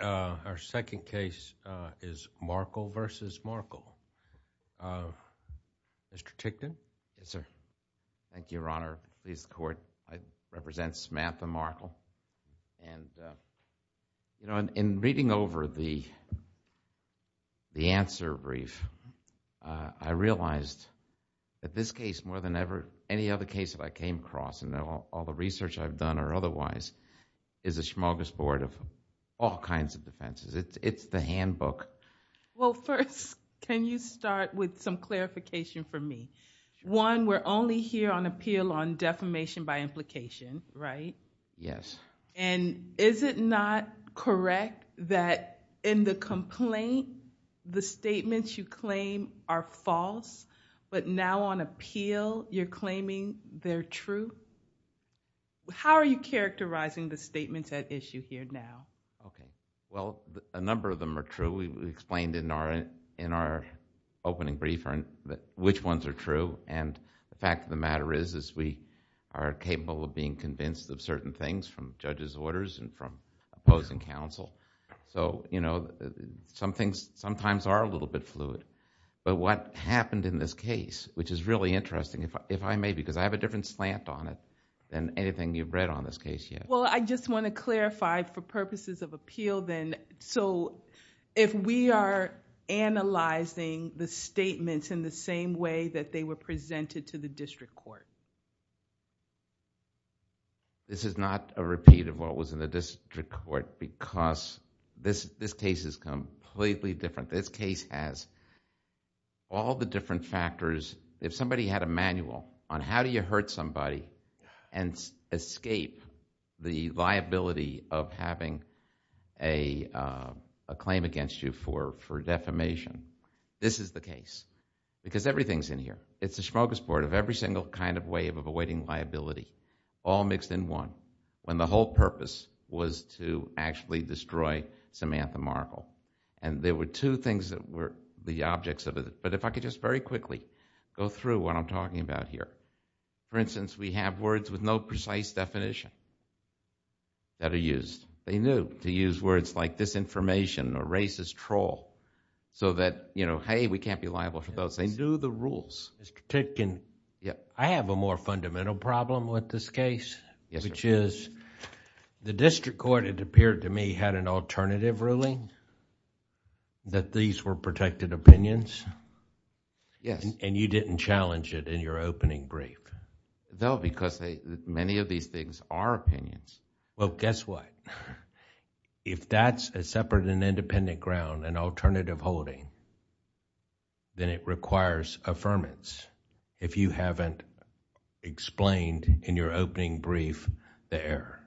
Our second case is Markle v. Markle. Mr. Tickton? Yes, sir. Thank you, Your Honor. I represent Samantha Markle. In reading over the answer brief, I realized that this case, more than any other case that I came across, and all the research I've done or otherwise, is a smorgasbord of all kinds of defenses. It's the handbook. Well, first, can you start with some clarification for me? One, we're only here on appeal on defamation by implication, right? Yes. And is it not correct that in the complaint, the statements you claim are false, but now on appeal, you're claiming they're true? How are you characterizing the statements at issue here now? Well, a number of them are true. We explained in our opening brief which ones are true. The fact of the matter is we are capable of being convinced of certain things from judges' orders and from opposing counsel. Some things sometimes are a little bit fluid. But what happened in this case, which is really interesting, if I may, because I have a different slant on it than anything you've read on this case yet. Well, I just want to clarify for purposes of appeal then, so if we are analyzing the statements in the same way that they were presented to the district court? This is not a repeat of what was in the district court because this case is completely different. This case has all the different factors. If somebody had a manual on how do you hurt somebody and escape the liability of having a claim against you for defamation, this is the case because everything's in here. It's a smorgasbord of every single kind of way of avoiding liability all mixed in one when the whole purpose was to actually destroy Samantha Markle. There were two things that were the objects of it. But if I could just very quickly go through what I'm talking about here. For instance, we have words with no precise definition that are used. They knew to use words like disinformation or racist troll so that, hey, we can't be liable for those. They knew the rules. Mr. Titkin, I have a more fundamental problem with this case, which is the district court, it appeared to me, had an alternative ruling that these were protected opinions and you didn't challenge it in your opening brief. No, because many of these things are opinions. Well, guess what? If that's a separate and independent ground, an alternative holding, then it requires affirmance if you haven't explained in your opening brief the error.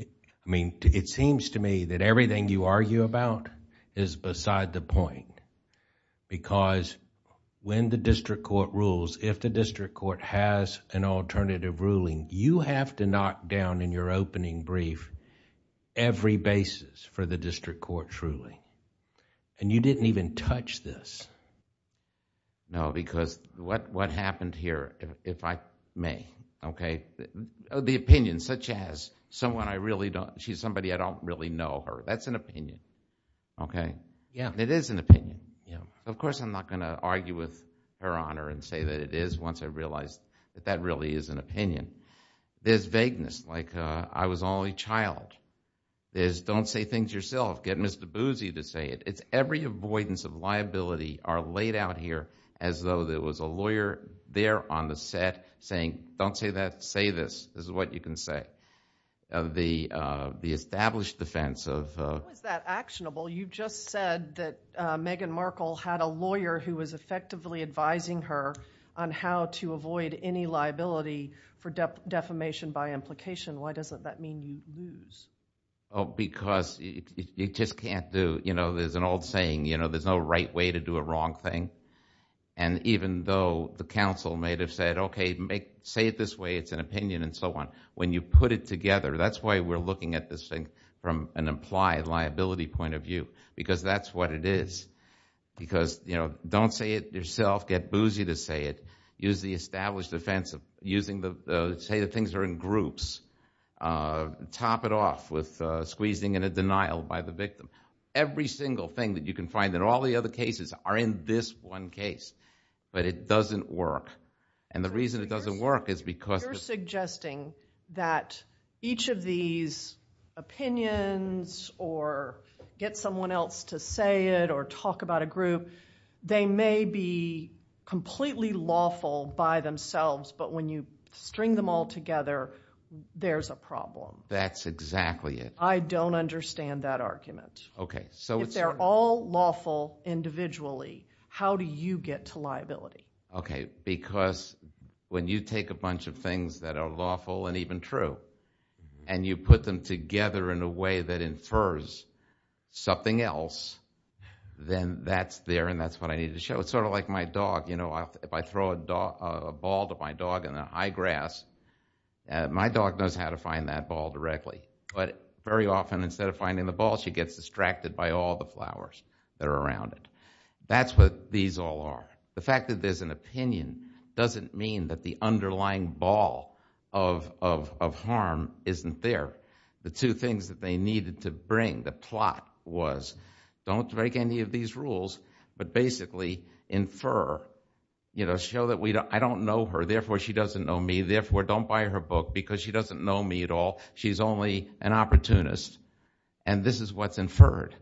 I mean, it seems to me that everything you argue about is beside the point because when the district court rules, if the district court has an alternative ruling, you have to knock down in your opening brief every basis for the district court, truly. You didn't even touch this. No, because what happened here, if I may, the opinion such as she's somebody I don't really know her, that's an opinion. It is an opinion. Of course, I'm not going to argue with her on her and say that it is once I realize that that really is an opinion. There's vagueness, like I was only a child. There's don't say things yourself, get Mr. Boozy to say it. It's every avoidance of liability are laid out here as though there was a lawyer there on the set saying, don't say that, say this. This is what you can say. The established defense of... How is that actionable? You've just said that Meghan Markle had a lawyer who was effectively advising her on how to avoid any liability for defamation by implication. Why doesn't that mean you lose? Because you just can't do... There's an old saying, there's no right way to do a wrong thing. Even though the council may have said, okay, say it this way, it's an opinion and so on, when you put it together, that's why we're looking at this thing from an implied liability point of view because that's what it is. Don't say it yourself, get Boozy to say it. Use the established defense of using the... say the things are in groups, top it off with squeezing and a denial by the victim. Every single thing that you can find in all the other cases are in this one case, but it doesn't work. The reason it doesn't work is because... You're suggesting that each of these opinions or get someone else to say it or talk about a group, they may be completely lawful by themselves, but when you string them all together, there's a problem. That's exactly it. I don't understand that argument. If they're all lawful individually, how do you get to liability? Because when you take a bunch of things that are lawful and even true and you put them together in a way that infers something else, then that's there and that's what I need to show. It's sort of like my dog. If I throw a ball to my dog in the high grass, my dog knows how to find that ball directly. But very often, instead of finding the ball, she gets distracted by all the flowers that are around it. That's what these all are. The fact that there's an opinion doesn't mean that the underlying ball of harm isn't there. The two things that they needed to bring, the plot, was don't break any of these rules, but basically infer, show that I don't know her, therefore she doesn't know me, therefore don't buy her book because she doesn't know me at all. She's only an opportunist. And this is what's inferred.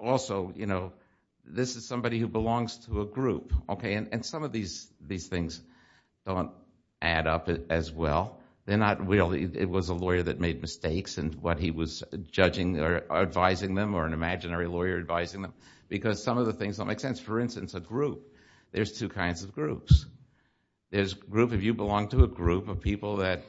Also, this is somebody who belongs to a group. And some of these things don't add up as well. It was a lawyer that made mistakes in what he was judging or advising them or an imaginary lawyer advising them because some of the things don't make sense. For instance, a group, there's two kinds of groups. If you belong to a group of people that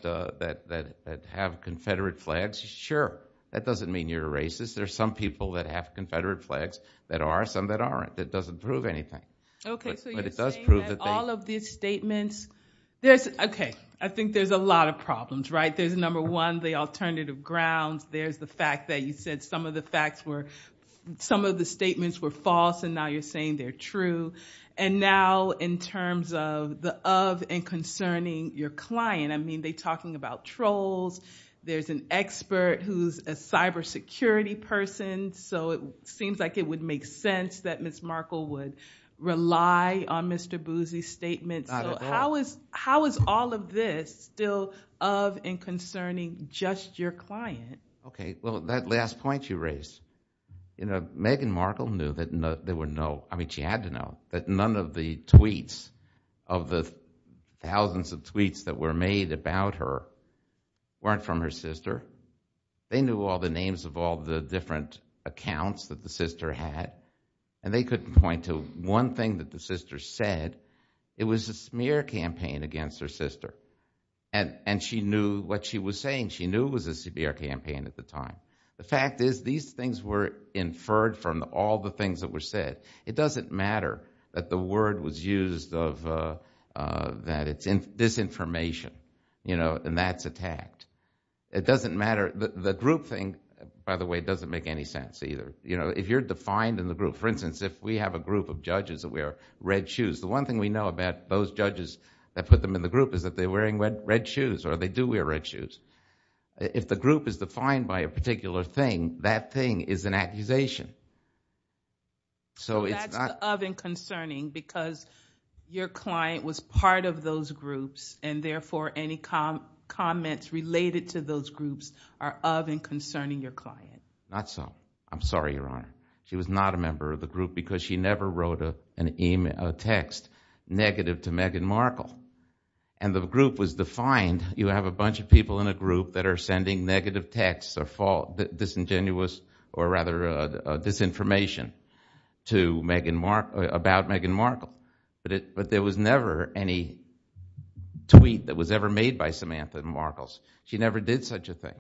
have Confederate flags, sure, that doesn't mean you're a racist. There are some people that have Confederate flags that are, some that aren't. That doesn't prove anything. Okay, so you're saying that all of these statements, okay, I think there's a lot of problems, right? There's number one, the alternative grounds. There's the fact that you said some of the facts were, some of the statements were false and now you're saying they're true. And now in terms of the of and concerning your client, I mean, they're talking about trolls. There's an expert who's a cybersecurity person. So it seems like it would make sense that Ms. Markle would rely on Mr. Boozy's statements. So how is all of this still of and concerning just your client? Okay, well, that last point you raised, you know, Meghan Markle knew that there were no, I mean, she had to know that none of the tweets of the thousands of tweets that were made about her weren't from her sister. They knew all the names of all the different accounts that the sister had. And they couldn't point to one thing that the sister said. It was a smear campaign against her sister. And she knew what she was saying. She knew it was a severe campaign at the time. The fact is these things were inferred from all the things that were said. It doesn't matter that the word was used of that it's disinformation, you know, and that's attacked. It doesn't matter. The group thing, by the way, doesn't make any sense either. You know, if you're defined in the group, for instance, if we have a group of judges that wear red shoes, the one thing we know about those judges that put them in the group is that they're wearing red shoes or they do wear red shoes. If the group is defined by a particular thing, that thing is an accusation. So it's not... That's of and concerning because your client was part of those groups and therefore any comments related to those groups are of and concerning your client. Not so. I'm sorry, Your Honor. She was not a member of the group because she never wrote a text negative to Meghan Markle. And the group was defined. You have a bunch of people in a group that are sending negative texts or disingenuous or rather disinformation to Meghan Markle, about Meghan Markle. But there was never any tweet that was ever made by Samantha Markles. She never did such a thing.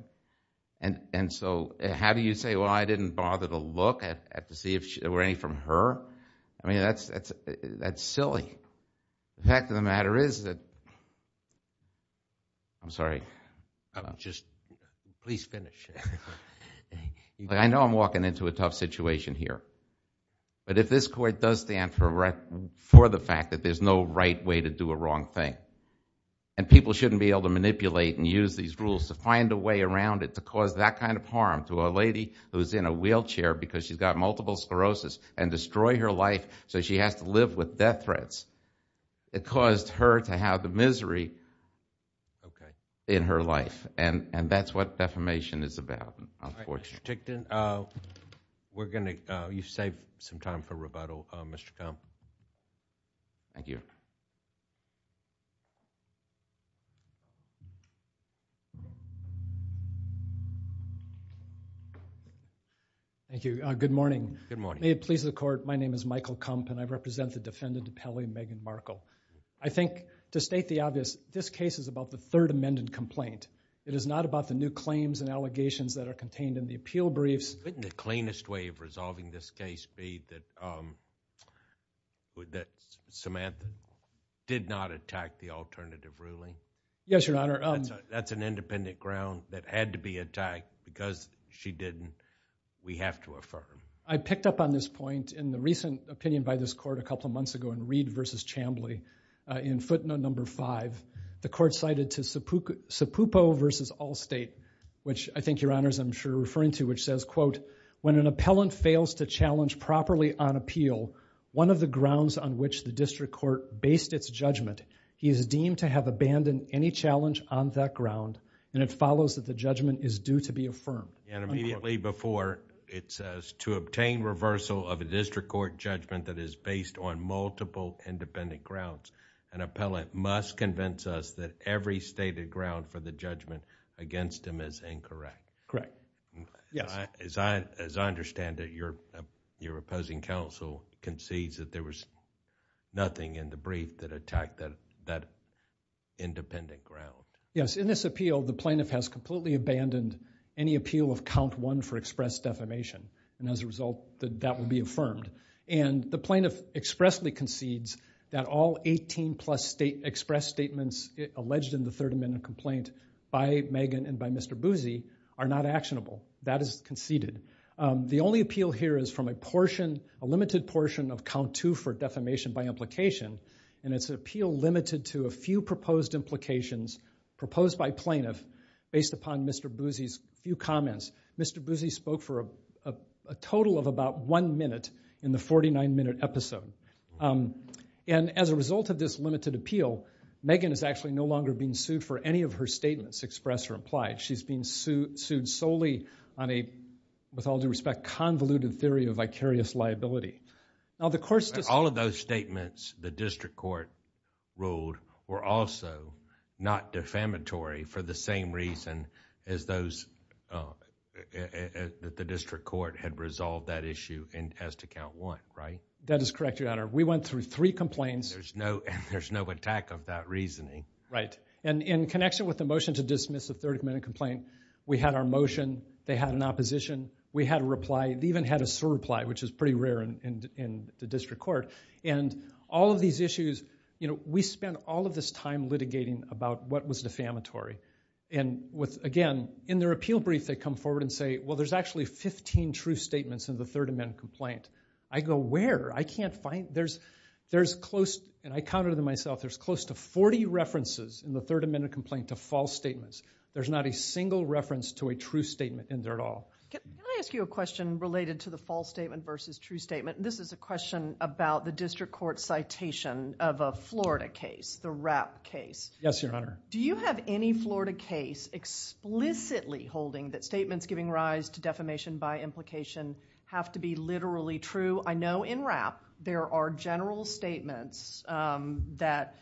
And so how do you say, well, I didn't bother to look to see if there were any from her? I mean, that's silly. The fact of the matter is that... I'm sorry. Just please finish. I know I'm walking into a tough situation here. But if this court does stand for the fact that there's no right way to do a wrong thing and people shouldn't be able to manipulate and use these rules to find a way around it to cause that kind of harm to a lady who's in a wheelchair because she's got multiple sclerosis and destroy her life so she has to live with death threats, it caused her to have the misery in her life. And that's what defamation is about, unfortunately. Mr. Tickton, you've saved some time for rebuttal. Thank you. Good morning. May it please the court, my name is Michael Kump and I represent the defendant, Pelley Megan Markle. I think, to state the obvious, this case is about the Third Amendment complaint. It is not about the new claims and allegations that are contained in the appeal briefs. Wouldn't the cleanest way of resolving this case be that Samantha did not attack the alternative ruling? Yes, Your Honor. That's an independent ground that had to be attacked. Because she didn't, we have to affirm. I picked up on this point in the recent opinion by this court a couple of months ago in Reed v. Chambly. In footnote number five, the court cited to Sapupo v. Allstate, which I think, Your Honors, I'm sure you're referring to, which says, quote, when an appellant fails to challenge properly on appeal, one of the grounds on which the district court based its judgment, he is deemed to have abandoned any challenge on that ground and it follows that the judgment is due to be affirmed. Immediately before, it says, to obtain reversal of a district court judgment that is based on multiple independent grounds, an appellant must convince us that every stated ground for the judgment against him is incorrect. Correct. Yes. As I understand it, your opposing counsel concedes that there was nothing in the brief that attacked that independent ground. Yes, in this appeal, the plaintiff has completely abandoned any appeal of count one for express defamation and as a result, that will be affirmed. The plaintiff expressly concedes that all 18 plus express statements alleged in the third amendment complaint by Megan and by Mr. Buzzi are not actionable. That is conceded. The only appeal here is from a portion, a limited portion of count two for defamation by implication and it's an appeal limited to a few proposed implications proposed by plaintiff based upon Mr. Buzzi's few comments. Mr. Buzzi spoke for a total of about one minute in the 49-minute episode. As a result of this limited appeal, Megan is actually no longer being sued for any of her statements expressed or implied. She's being sued solely on a, with all due respect, convoluted theory of vicarious liability. All of those statements the district court ruled were also not defamatory for the same reason as those that the district court had resolved that issue as to count one, right? That is correct, Your Honor. We went through three complaints. There's no attack of that reasoning. Right. In connection with the motion to dismiss the third amendment complaint, we had our motion. They had an opposition. We had a reply. They even had a surreply which is pretty rare in the district court. All of these issues, we spent all of this time litigating about what was defamatory. Again, in their appeal brief, they come forward and say, well, there's actually 15 true statements in the third amendment complaint. I go, where? I can't find. There's close, and I counted them myself, there's close to 40 references in the third amendment complaint to false statements. There's not a single reference to a true statement in there at all. Can I ask you a question related to the false statement versus true statement? This is a question about the district court citation of a Florida case, the Rapp case. Yes, Your Honor. Do you have any Florida case explicitly holding that statements giving rise to defamation by implication have to be literally true? I know in Rapp, there are general statements that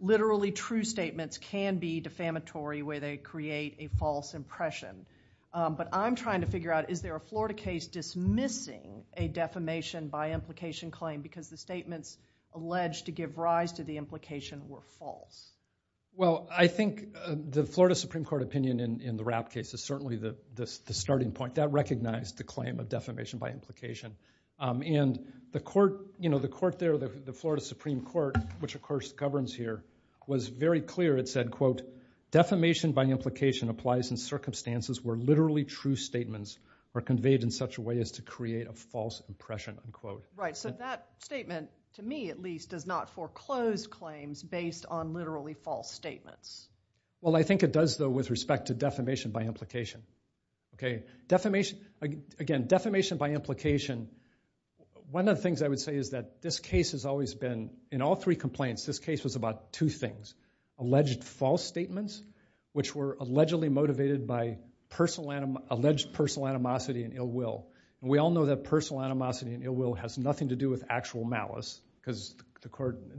literally true statements can be defamatory where they create a false impression. I'm trying to figure out, is there a Florida case dismissing a defamation by implication claim because the statements alleged to give rise to the implication were false? I think the Florida Supreme Court opinion in the Rapp case is certainly the starting point. That recognized the claim of defamation by implication. The court there, the Florida Supreme Court, which of course governs here, was very clear. Defamation by implication applies in circumstances where literally true statements are conveyed in such a way as to create a false impression. That statement, to me at least, does not foreclose claims based on literally false statements. I think it does though with respect to defamation by implication. Again, defamation by implication, one of the things I would say is that this case has always been, in all three complaints, this case was about two things. Alleged false statements, which were allegedly motivated by alleged personal animosity and ill will. We all know that personal animosity and ill will has nothing to do with actual malice because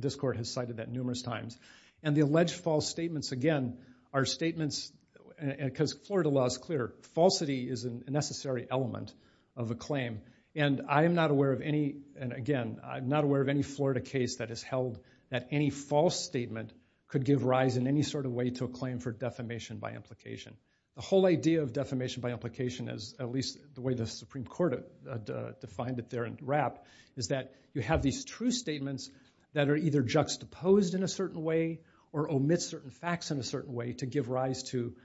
this court has cited that numerous times. The alleged false statements again are statements, because Florida law is clear, falsity is a necessary element of a claim. I am not aware of any, and again, I'm not aware of any Florida case that has held that any false statement could give rise in any sort of way to a claim for defamation by implication. The whole idea of defamation by implication, at least the way the Supreme Court defined it there in RAP, is that you have these true statements that are either juxtaposed in a certain way or omit certain facts in a certain way to give rise to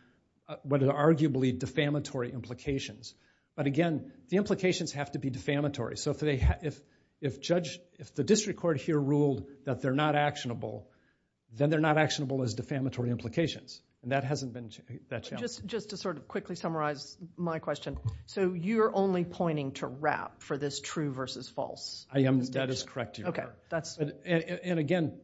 what are arguably defamatory implications. But again, the implications have to be defamatory. If the district court here ruled that they're not actionable, then they're not actionable as defamatory implications, and that hasn't been that challenge. Just to sort of quickly summarize my question, so you're only pointing to RAP for this true versus false? I am. That is correct, Your Honor. And again,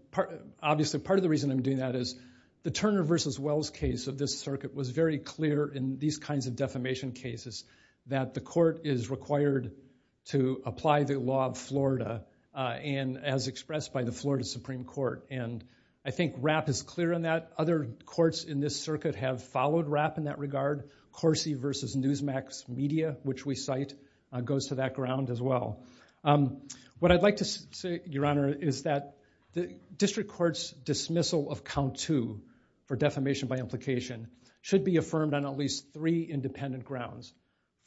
obviously part of the reason I'm doing that is the Turner v. Wells case of this circuit was very clear in these kinds of defamation cases that the court is required to apply the law of Florida and as expressed by the Florida Supreme Court. And I think RAP is clear on that. Other courts in this circuit have followed RAP in that regard. Corsi v. Newsmax Media, which we cite, goes to that ground as well. What I'd like to say, Your Honor, is that the district court's dismissal of count two for defamation by implication should be affirmed on at least three independent grounds.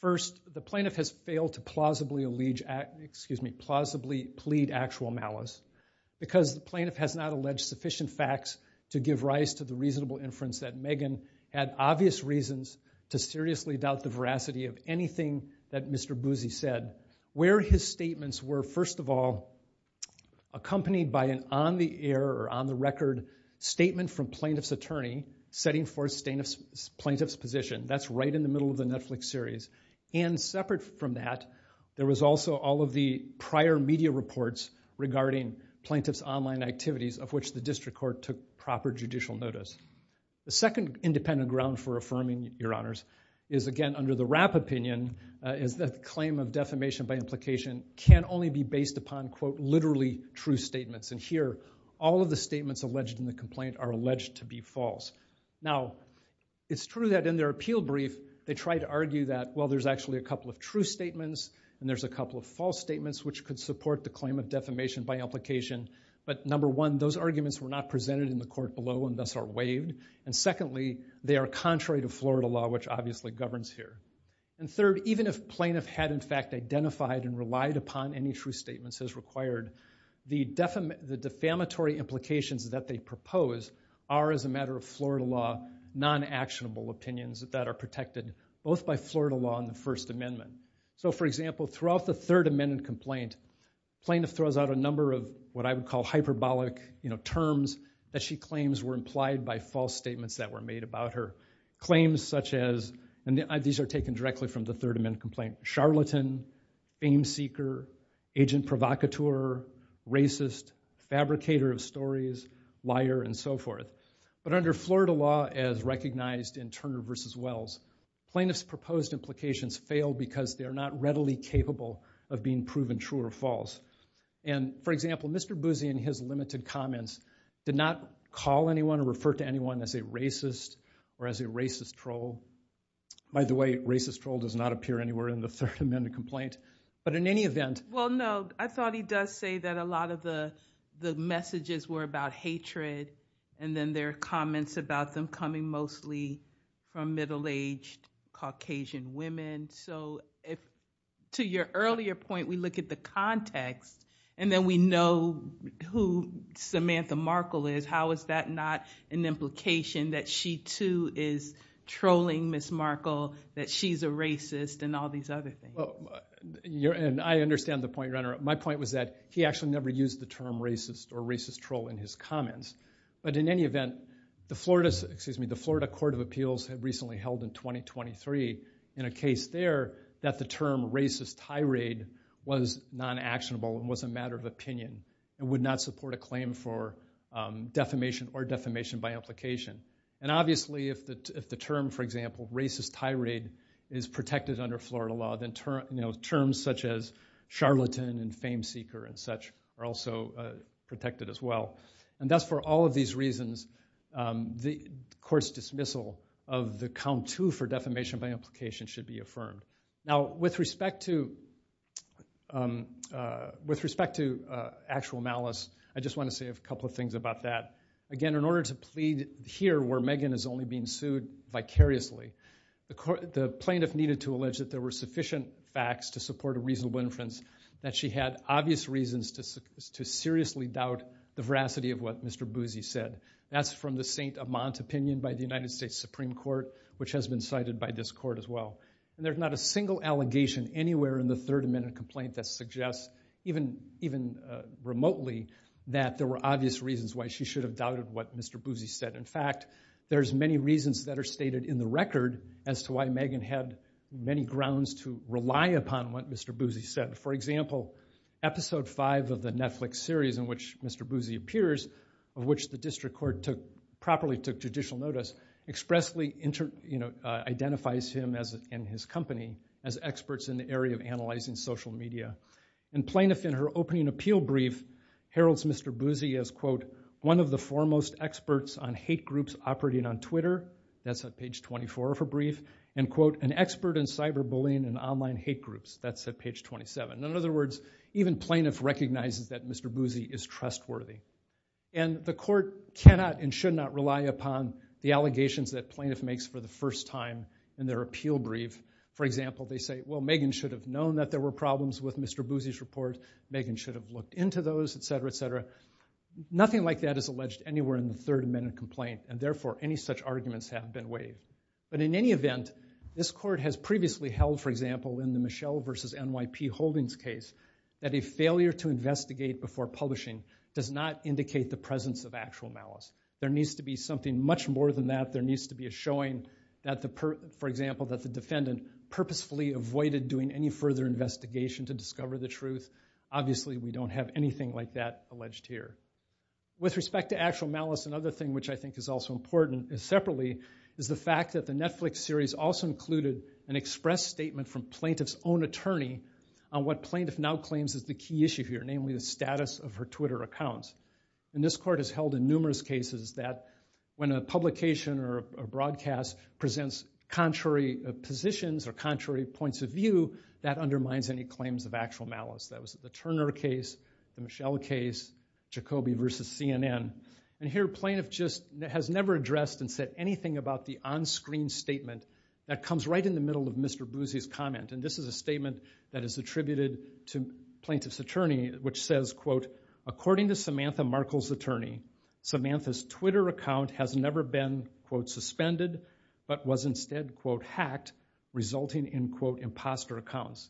First, the plaintiff has failed to plausibly allege... excuse me, plausibly plead actual malice because the plaintiff has not alleged sufficient facts to give rise to the reasonable inference that Megan had obvious reasons to seriously doubt the veracity of anything that Mr. Buzzi said. Where his statements were, first of all, accompanied by an on-the-air or on-the-record statement from plaintiff's attorney setting forth plaintiff's position. That's right in the middle of the Netflix series. And separate from that, there was also all of the prior media reports regarding plaintiff's online activities of which the district court took proper judicial notice. The second independent ground for affirming, Your Honors, is, again, under the RAP opinion, is that claim of defamation by implication can only be based upon, quote, literally true statements. And here, all of the statements alleged in the complaint are alleged to be false. Now, it's true that in their appeal brief, they try to argue that, well, there's actually a couple of true statements and there's a couple of false statements which could support the claim of defamation by implication. But, number one, those arguments were not presented in the court below and thus are waived. And secondly, they are contrary to Florida law, which obviously governs here. And third, even if plaintiff had, in fact, identified and relied upon any true statements as required, the defamatory implications that they propose are, as a matter of Florida law, non-actionable opinions that are protected, both by Florida law and the First Amendment. So, for example, throughout the Third Amendment complaint, plaintiff throws out a number of what I would call hyperbolic terms that she claims were implied by false statements that were made about her. Claims such as, and these are taken directly from the Third Amendment complaint, charlatan, fame seeker, agent provocateur, racist, fabricator of stories, liar, and so forth. But under Florida law, as recognized in Turner v. Wells, plaintiff's proposed implications fail because they are not readily capable of being proven true or false. And, for example, Mr. Boozy, in his limited comments, did not call anyone or refer to anyone as a racist or as a racist troll. By the way, racist troll does not appear anywhere in the Third Amendment complaint. But in any event... Well, no, I thought he does say that a lot of the messages were about hatred, and then there are comments about them coming mostly from middle-aged Caucasian women. So, to your earlier point, we look at the context, and then we know who Samantha Markle is. How is that not an implication that she, too, is trolling Ms. Markle, that she's a racist, and all these other things? And I understand the point, Your Honor. My point was that he actually never used the term racist or racist troll in his comments. But in any event, the Florida Court of Appeals had recently held in 2023, in a case there, that the term racist tirade was non-actionable and was a matter of opinion and would not support a claim for defamation or defamation by implication. And obviously, if the term, for example, racist tirade, is protected under Florida law, then terms such as charlatan and fame-seeker and such are also protected as well. And thus, for all of these reasons, the court's dismissal of the count to for defamation by implication should be affirmed. Now, with respect to actual malice, I just want to say a couple of things about that. Again, in order to plead here where Megan is only being sued vicariously, the plaintiff needed to allege that there were sufficient facts to support a reasonable inference, that she had obvious reasons to seriously doubt the veracity of what Mr. Boozy said. That's from the St. Amant opinion by the United States Supreme Court, which has been cited by this court as well. And there's not a single allegation anywhere in the Third Amendment complaint that suggests, even remotely, that there were obvious reasons why she should have doubted what Mr. Boozy said. In fact, there's many reasons that are stated in the record as to why Megan had many grounds to rely upon what Mr. Boozy said. For example, Episode 5 of the Netflix series in which Mr. Boozy appears, of which the district court properly took judicial notice, expressly identifies him and his company as experts in the area of analyzing social media. And plaintiff, in her opening appeal brief, heralds Mr. Boozy as, quote, one of the foremost experts on hate groups operating on Twitter. That's at page 24 of her brief. And, quote, an expert in cyberbullying and online hate groups. That's at page 27. In other words, even plaintiff recognizes that Mr. Boozy is trustworthy. And the court cannot and should not rely upon the allegations that plaintiff makes for the first time in their appeal brief. For example, they say, well, Megan should have known that there were problems with Mr. Boozy's report. Megan should have looked into those, etc., etc. Nothing like that is alleged anywhere in the Third Amendment complaint. And therefore, any such arguments have been waived. But in any event, this court has previously held, for example, in the Michelle v. NYP Holdings case, that a failure to investigate before publishing does not indicate the presence of actual malice. There needs to be something much more than that. There needs to be a showing that the, for example, that the defendant purposefully avoided doing any further investigation to discover the truth. Obviously, we don't have anything like that alleged here. With respect to actual malice, another thing which I think is also important, separately, is the fact that the Netflix series also included an express statement from plaintiff's own attorney on what plaintiff now claims is the key issue here, namely the status of her Twitter accounts. And this court has held in numerous cases that when a publication or a broadcast presents contrary positions or contrary points of view, that undermines any claims of actual malice. That was the Turner case, the Michelle case, Jacoby v. CNN. And here, plaintiff just has never addressed and said anything about the onscreen statement that comes right in the middle of Mr. Buzzi's comment. And this is a statement that is attributed to plaintiff's attorney, which says, quote, according to Samantha Markle's attorney, Samantha's Twitter account has never been, quote, but was instead, quote, hacked, resulting in, quote, imposter accounts.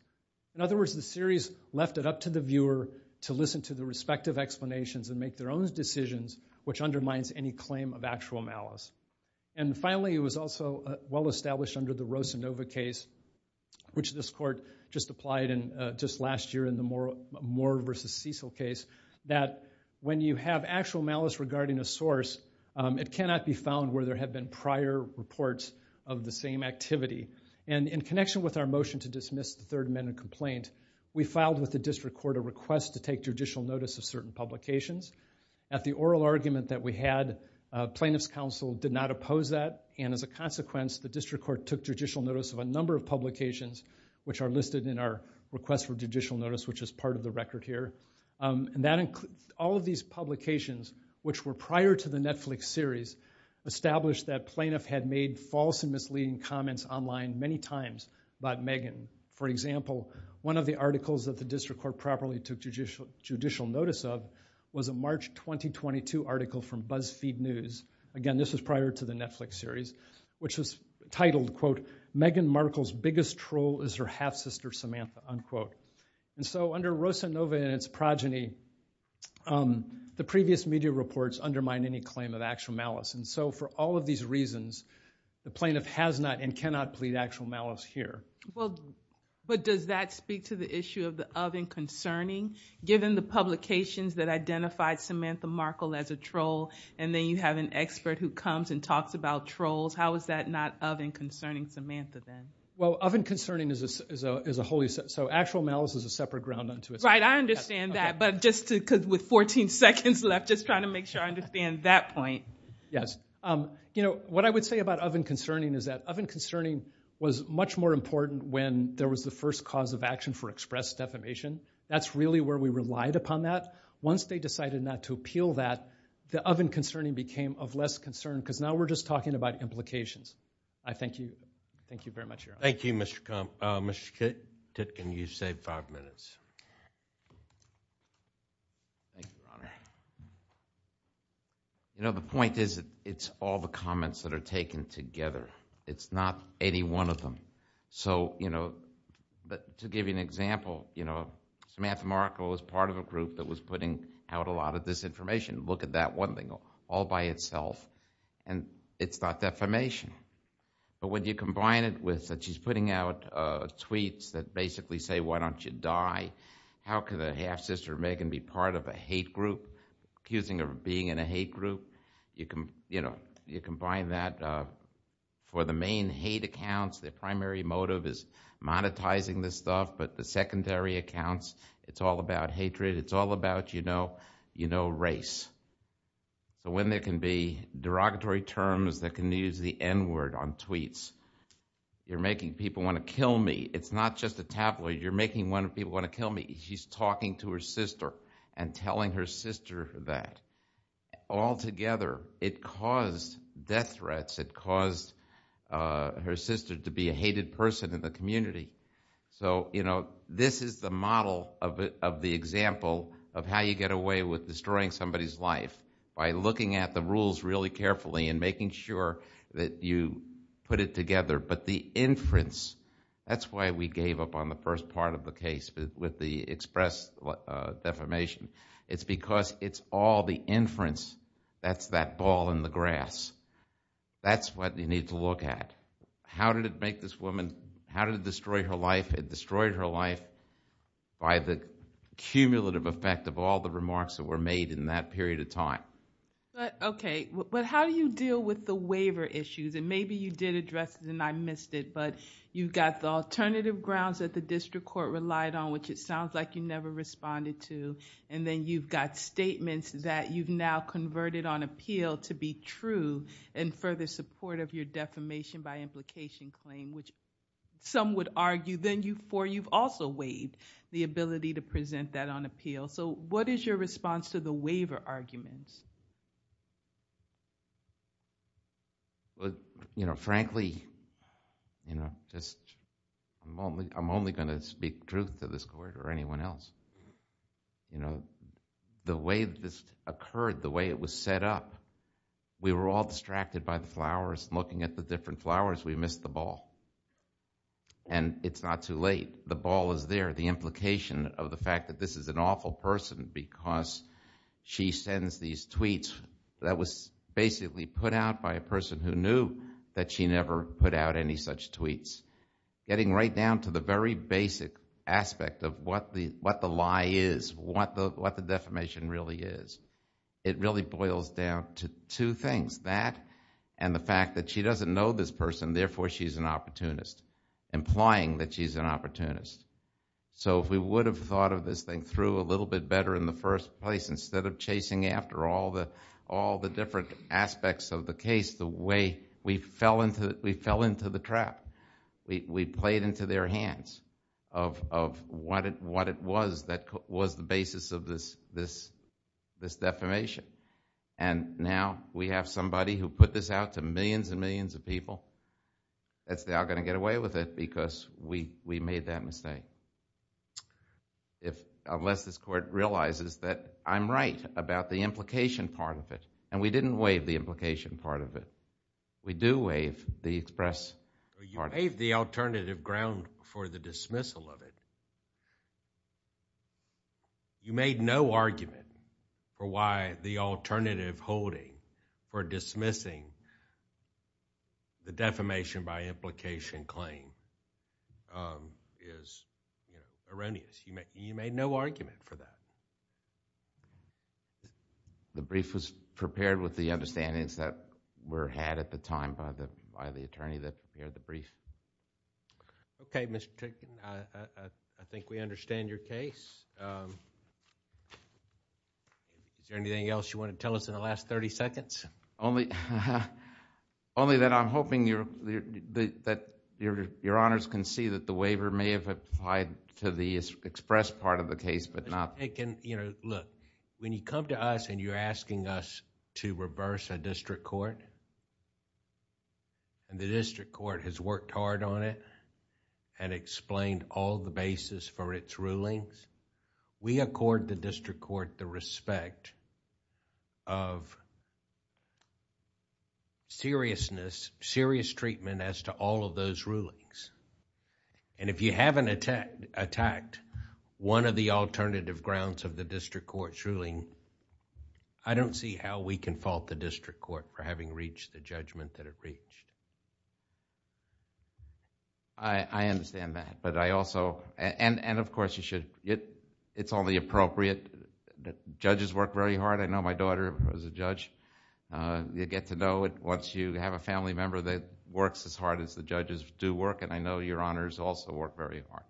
In other words, the series left it up to the viewer to listen to the respective explanations and make their own decisions, which undermines any claim of actual malice. And finally, it was also well established under the Rosanova case, which this court just applied in just last year in the Moore v. Cecil case, that when you have actual malice regarding a source, it cannot be found where there have been prior reports of the same activity. And in connection with our motion to dismiss the Third Amendment complaint, we filed with the district court a request to take judicial notice of certain publications. At the oral argument that we had, plaintiff's counsel did not oppose that, and as a consequence, the district court took judicial notice of a number of publications which are listed in our request for judicial notice, which is part of the record here. And all of these publications, which were prior to the Netflix series, established that plaintiff had made false and misleading comments online many times about Meghan. For example, one of the articles that the district court properly took judicial notice of was a March 2022 article from BuzzFeed News. Again, this was prior to the Netflix series, which was titled, quote, Meghan Markle's Biggest Troll is Her Half-Sister Samantha, unquote. And so under Rosanova and its progeny, the previous media reports undermine any claim of actual malice. And so for all of these reasons, the plaintiff has not and cannot plead actual malice here. Well, but does that speak to the issue of the of and concerning? Given the publications that identified Samantha Markle as a troll, and then you have an expert who comes and talks about trolls, how is that not of and concerning Samantha then? Well, of and concerning is a wholly separate... So actual malice is a separate ground unto itself. Right, I understand that. But just with 14 seconds left, just trying to make sure I understand that point. Yes. You know, what I would say about of and concerning is that of and concerning was much more important when there was the first cause of action for express defamation. That's really where we relied upon that. Once they decided not to appeal that, the of and concerning became of less concern because now we're just talking about implications. I thank you. Thank you very much, Your Honor. Thank you, Mr. Titkin. You've saved five minutes. Thank you, Your Honor. You know, the point is that it's all the comments that are taken together. It's not any one of them. So, you know, to give you an example, you know, Samantha Markle was part of a group that was putting out a lot of disinformation. Look at that one thing all by itself. And it's not defamation. But when you combine it with that she's putting out tweets that basically say, why don't you die? How could a half-sister of Megan be part of a hate group accusing her of being in a hate group? You know, you combine that for the main hate accounts, the primary motive is monetizing this stuff, but the secondary accounts, it's all about hatred, it's all about, you know, you know, race. So when there can be derogatory terms that can use the N-word on tweets. You're making people want to kill me. It's not just a tabloid. You're making people want to kill me. She's talking to her sister and telling her sister that. Altogether, it caused death threats. It caused her sister to be a hated person in the community. So, you know, this is the model of the example of how you get away with destroying somebody's life by looking at the rules really carefully and making sure that you put it together. But the inference, that's why we gave up on the first part of the case with the express defamation. It's because it's all the inference. That's that ball in the grass. That's what you need to look at. How did it make this woman, how did it destroy her life? It destroyed her life by the cumulative effect of all the remarks that were made in that period of time. Okay, but how do you deal with the waiver issues? Maybe you did address it and I missed it, but you've got the alternative grounds that the district court relied on, which it sounds like you never responded to, and then you've got statements that you've now converted on appeal to be true in further support of your defamation by implication claim, which some would argue, then you've also waived the ability to present that on appeal. So what is your response to the waiver arguments? Frankly, I'm only going to speak truth to this court or anyone else. The way this occurred, the way it was set up, we were all distracted by the flowers, looking at the different flowers, we missed the ball. And it's not too late. The ball is there. The implication of the fact that this is an awful person because she sends these tweets that was basically put out by a person who knew that she never put out any such tweets, getting right down to the very basic aspect of what the lie is, what the defamation really is. It really boils down to two things, that and the fact that she doesn't know this person, therefore she's an opportunist, implying that she's an opportunist. So if we would have thought of this thing through a little bit better in the first place, instead of chasing after all the different aspects of the case, the way we fell into the trap, we played into their hands of what it was that was the basis of this defamation. And now we have somebody who put this out to millions and millions of people that's now going to get away with it because we made that mistake. Unless this court realizes that I'm right about the implication part of it. And we didn't waive the implication part of it. We do waive the express part of it. You waived the alternative ground for the dismissal of it. You made no argument for why the alternative holding for dismissing the defamation by implication claim is erroneous. You made no argument for that. The brief was prepared with the understandings that were had at the time by the attorney that prepared the brief. Okay, Mr. Tickett. I think we understand your case. Is there anything else you want to tell us in the last thirty seconds? Only that I'm hoping that your honors can see that the waiver may have applied to the express part of the case but not... Look, when you come to us and you're asking us to reverse a district court, the district court has worked hard on it and explained all the basis for its rulings. We accord the district court the respect of seriousness, serious treatment as to all of those rulings. If you haven't attacked one of the alternative grounds of the district court's ruling, I don't see how we can fault the district court for having reached the judgment that it reached. I understand that but I also... and of course you should... it's only appropriate that judges work very hard. I know my daughter was a judge. You get to know it once you have a family member that works as hard as the judges do work and I know your honors also work very hard.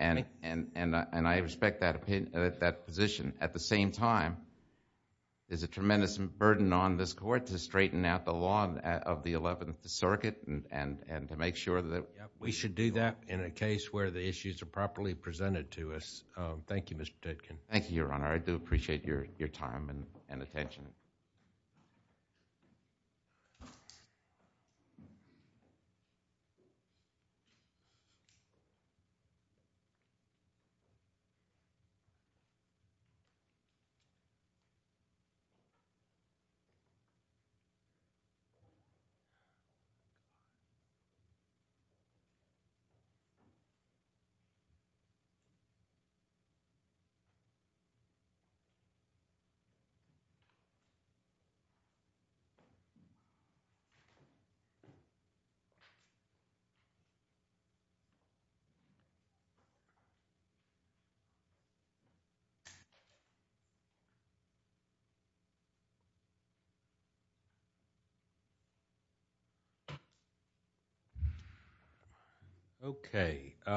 I respect that position. At the same time, there's a tremendous burden on this court to straighten out the law of the Eleventh Circuit and to make sure that... We should do that in a case where the issues are properly presented to us. Thank you, Mr. Dedkin. Thank you, your honor. I do appreciate your time and attention.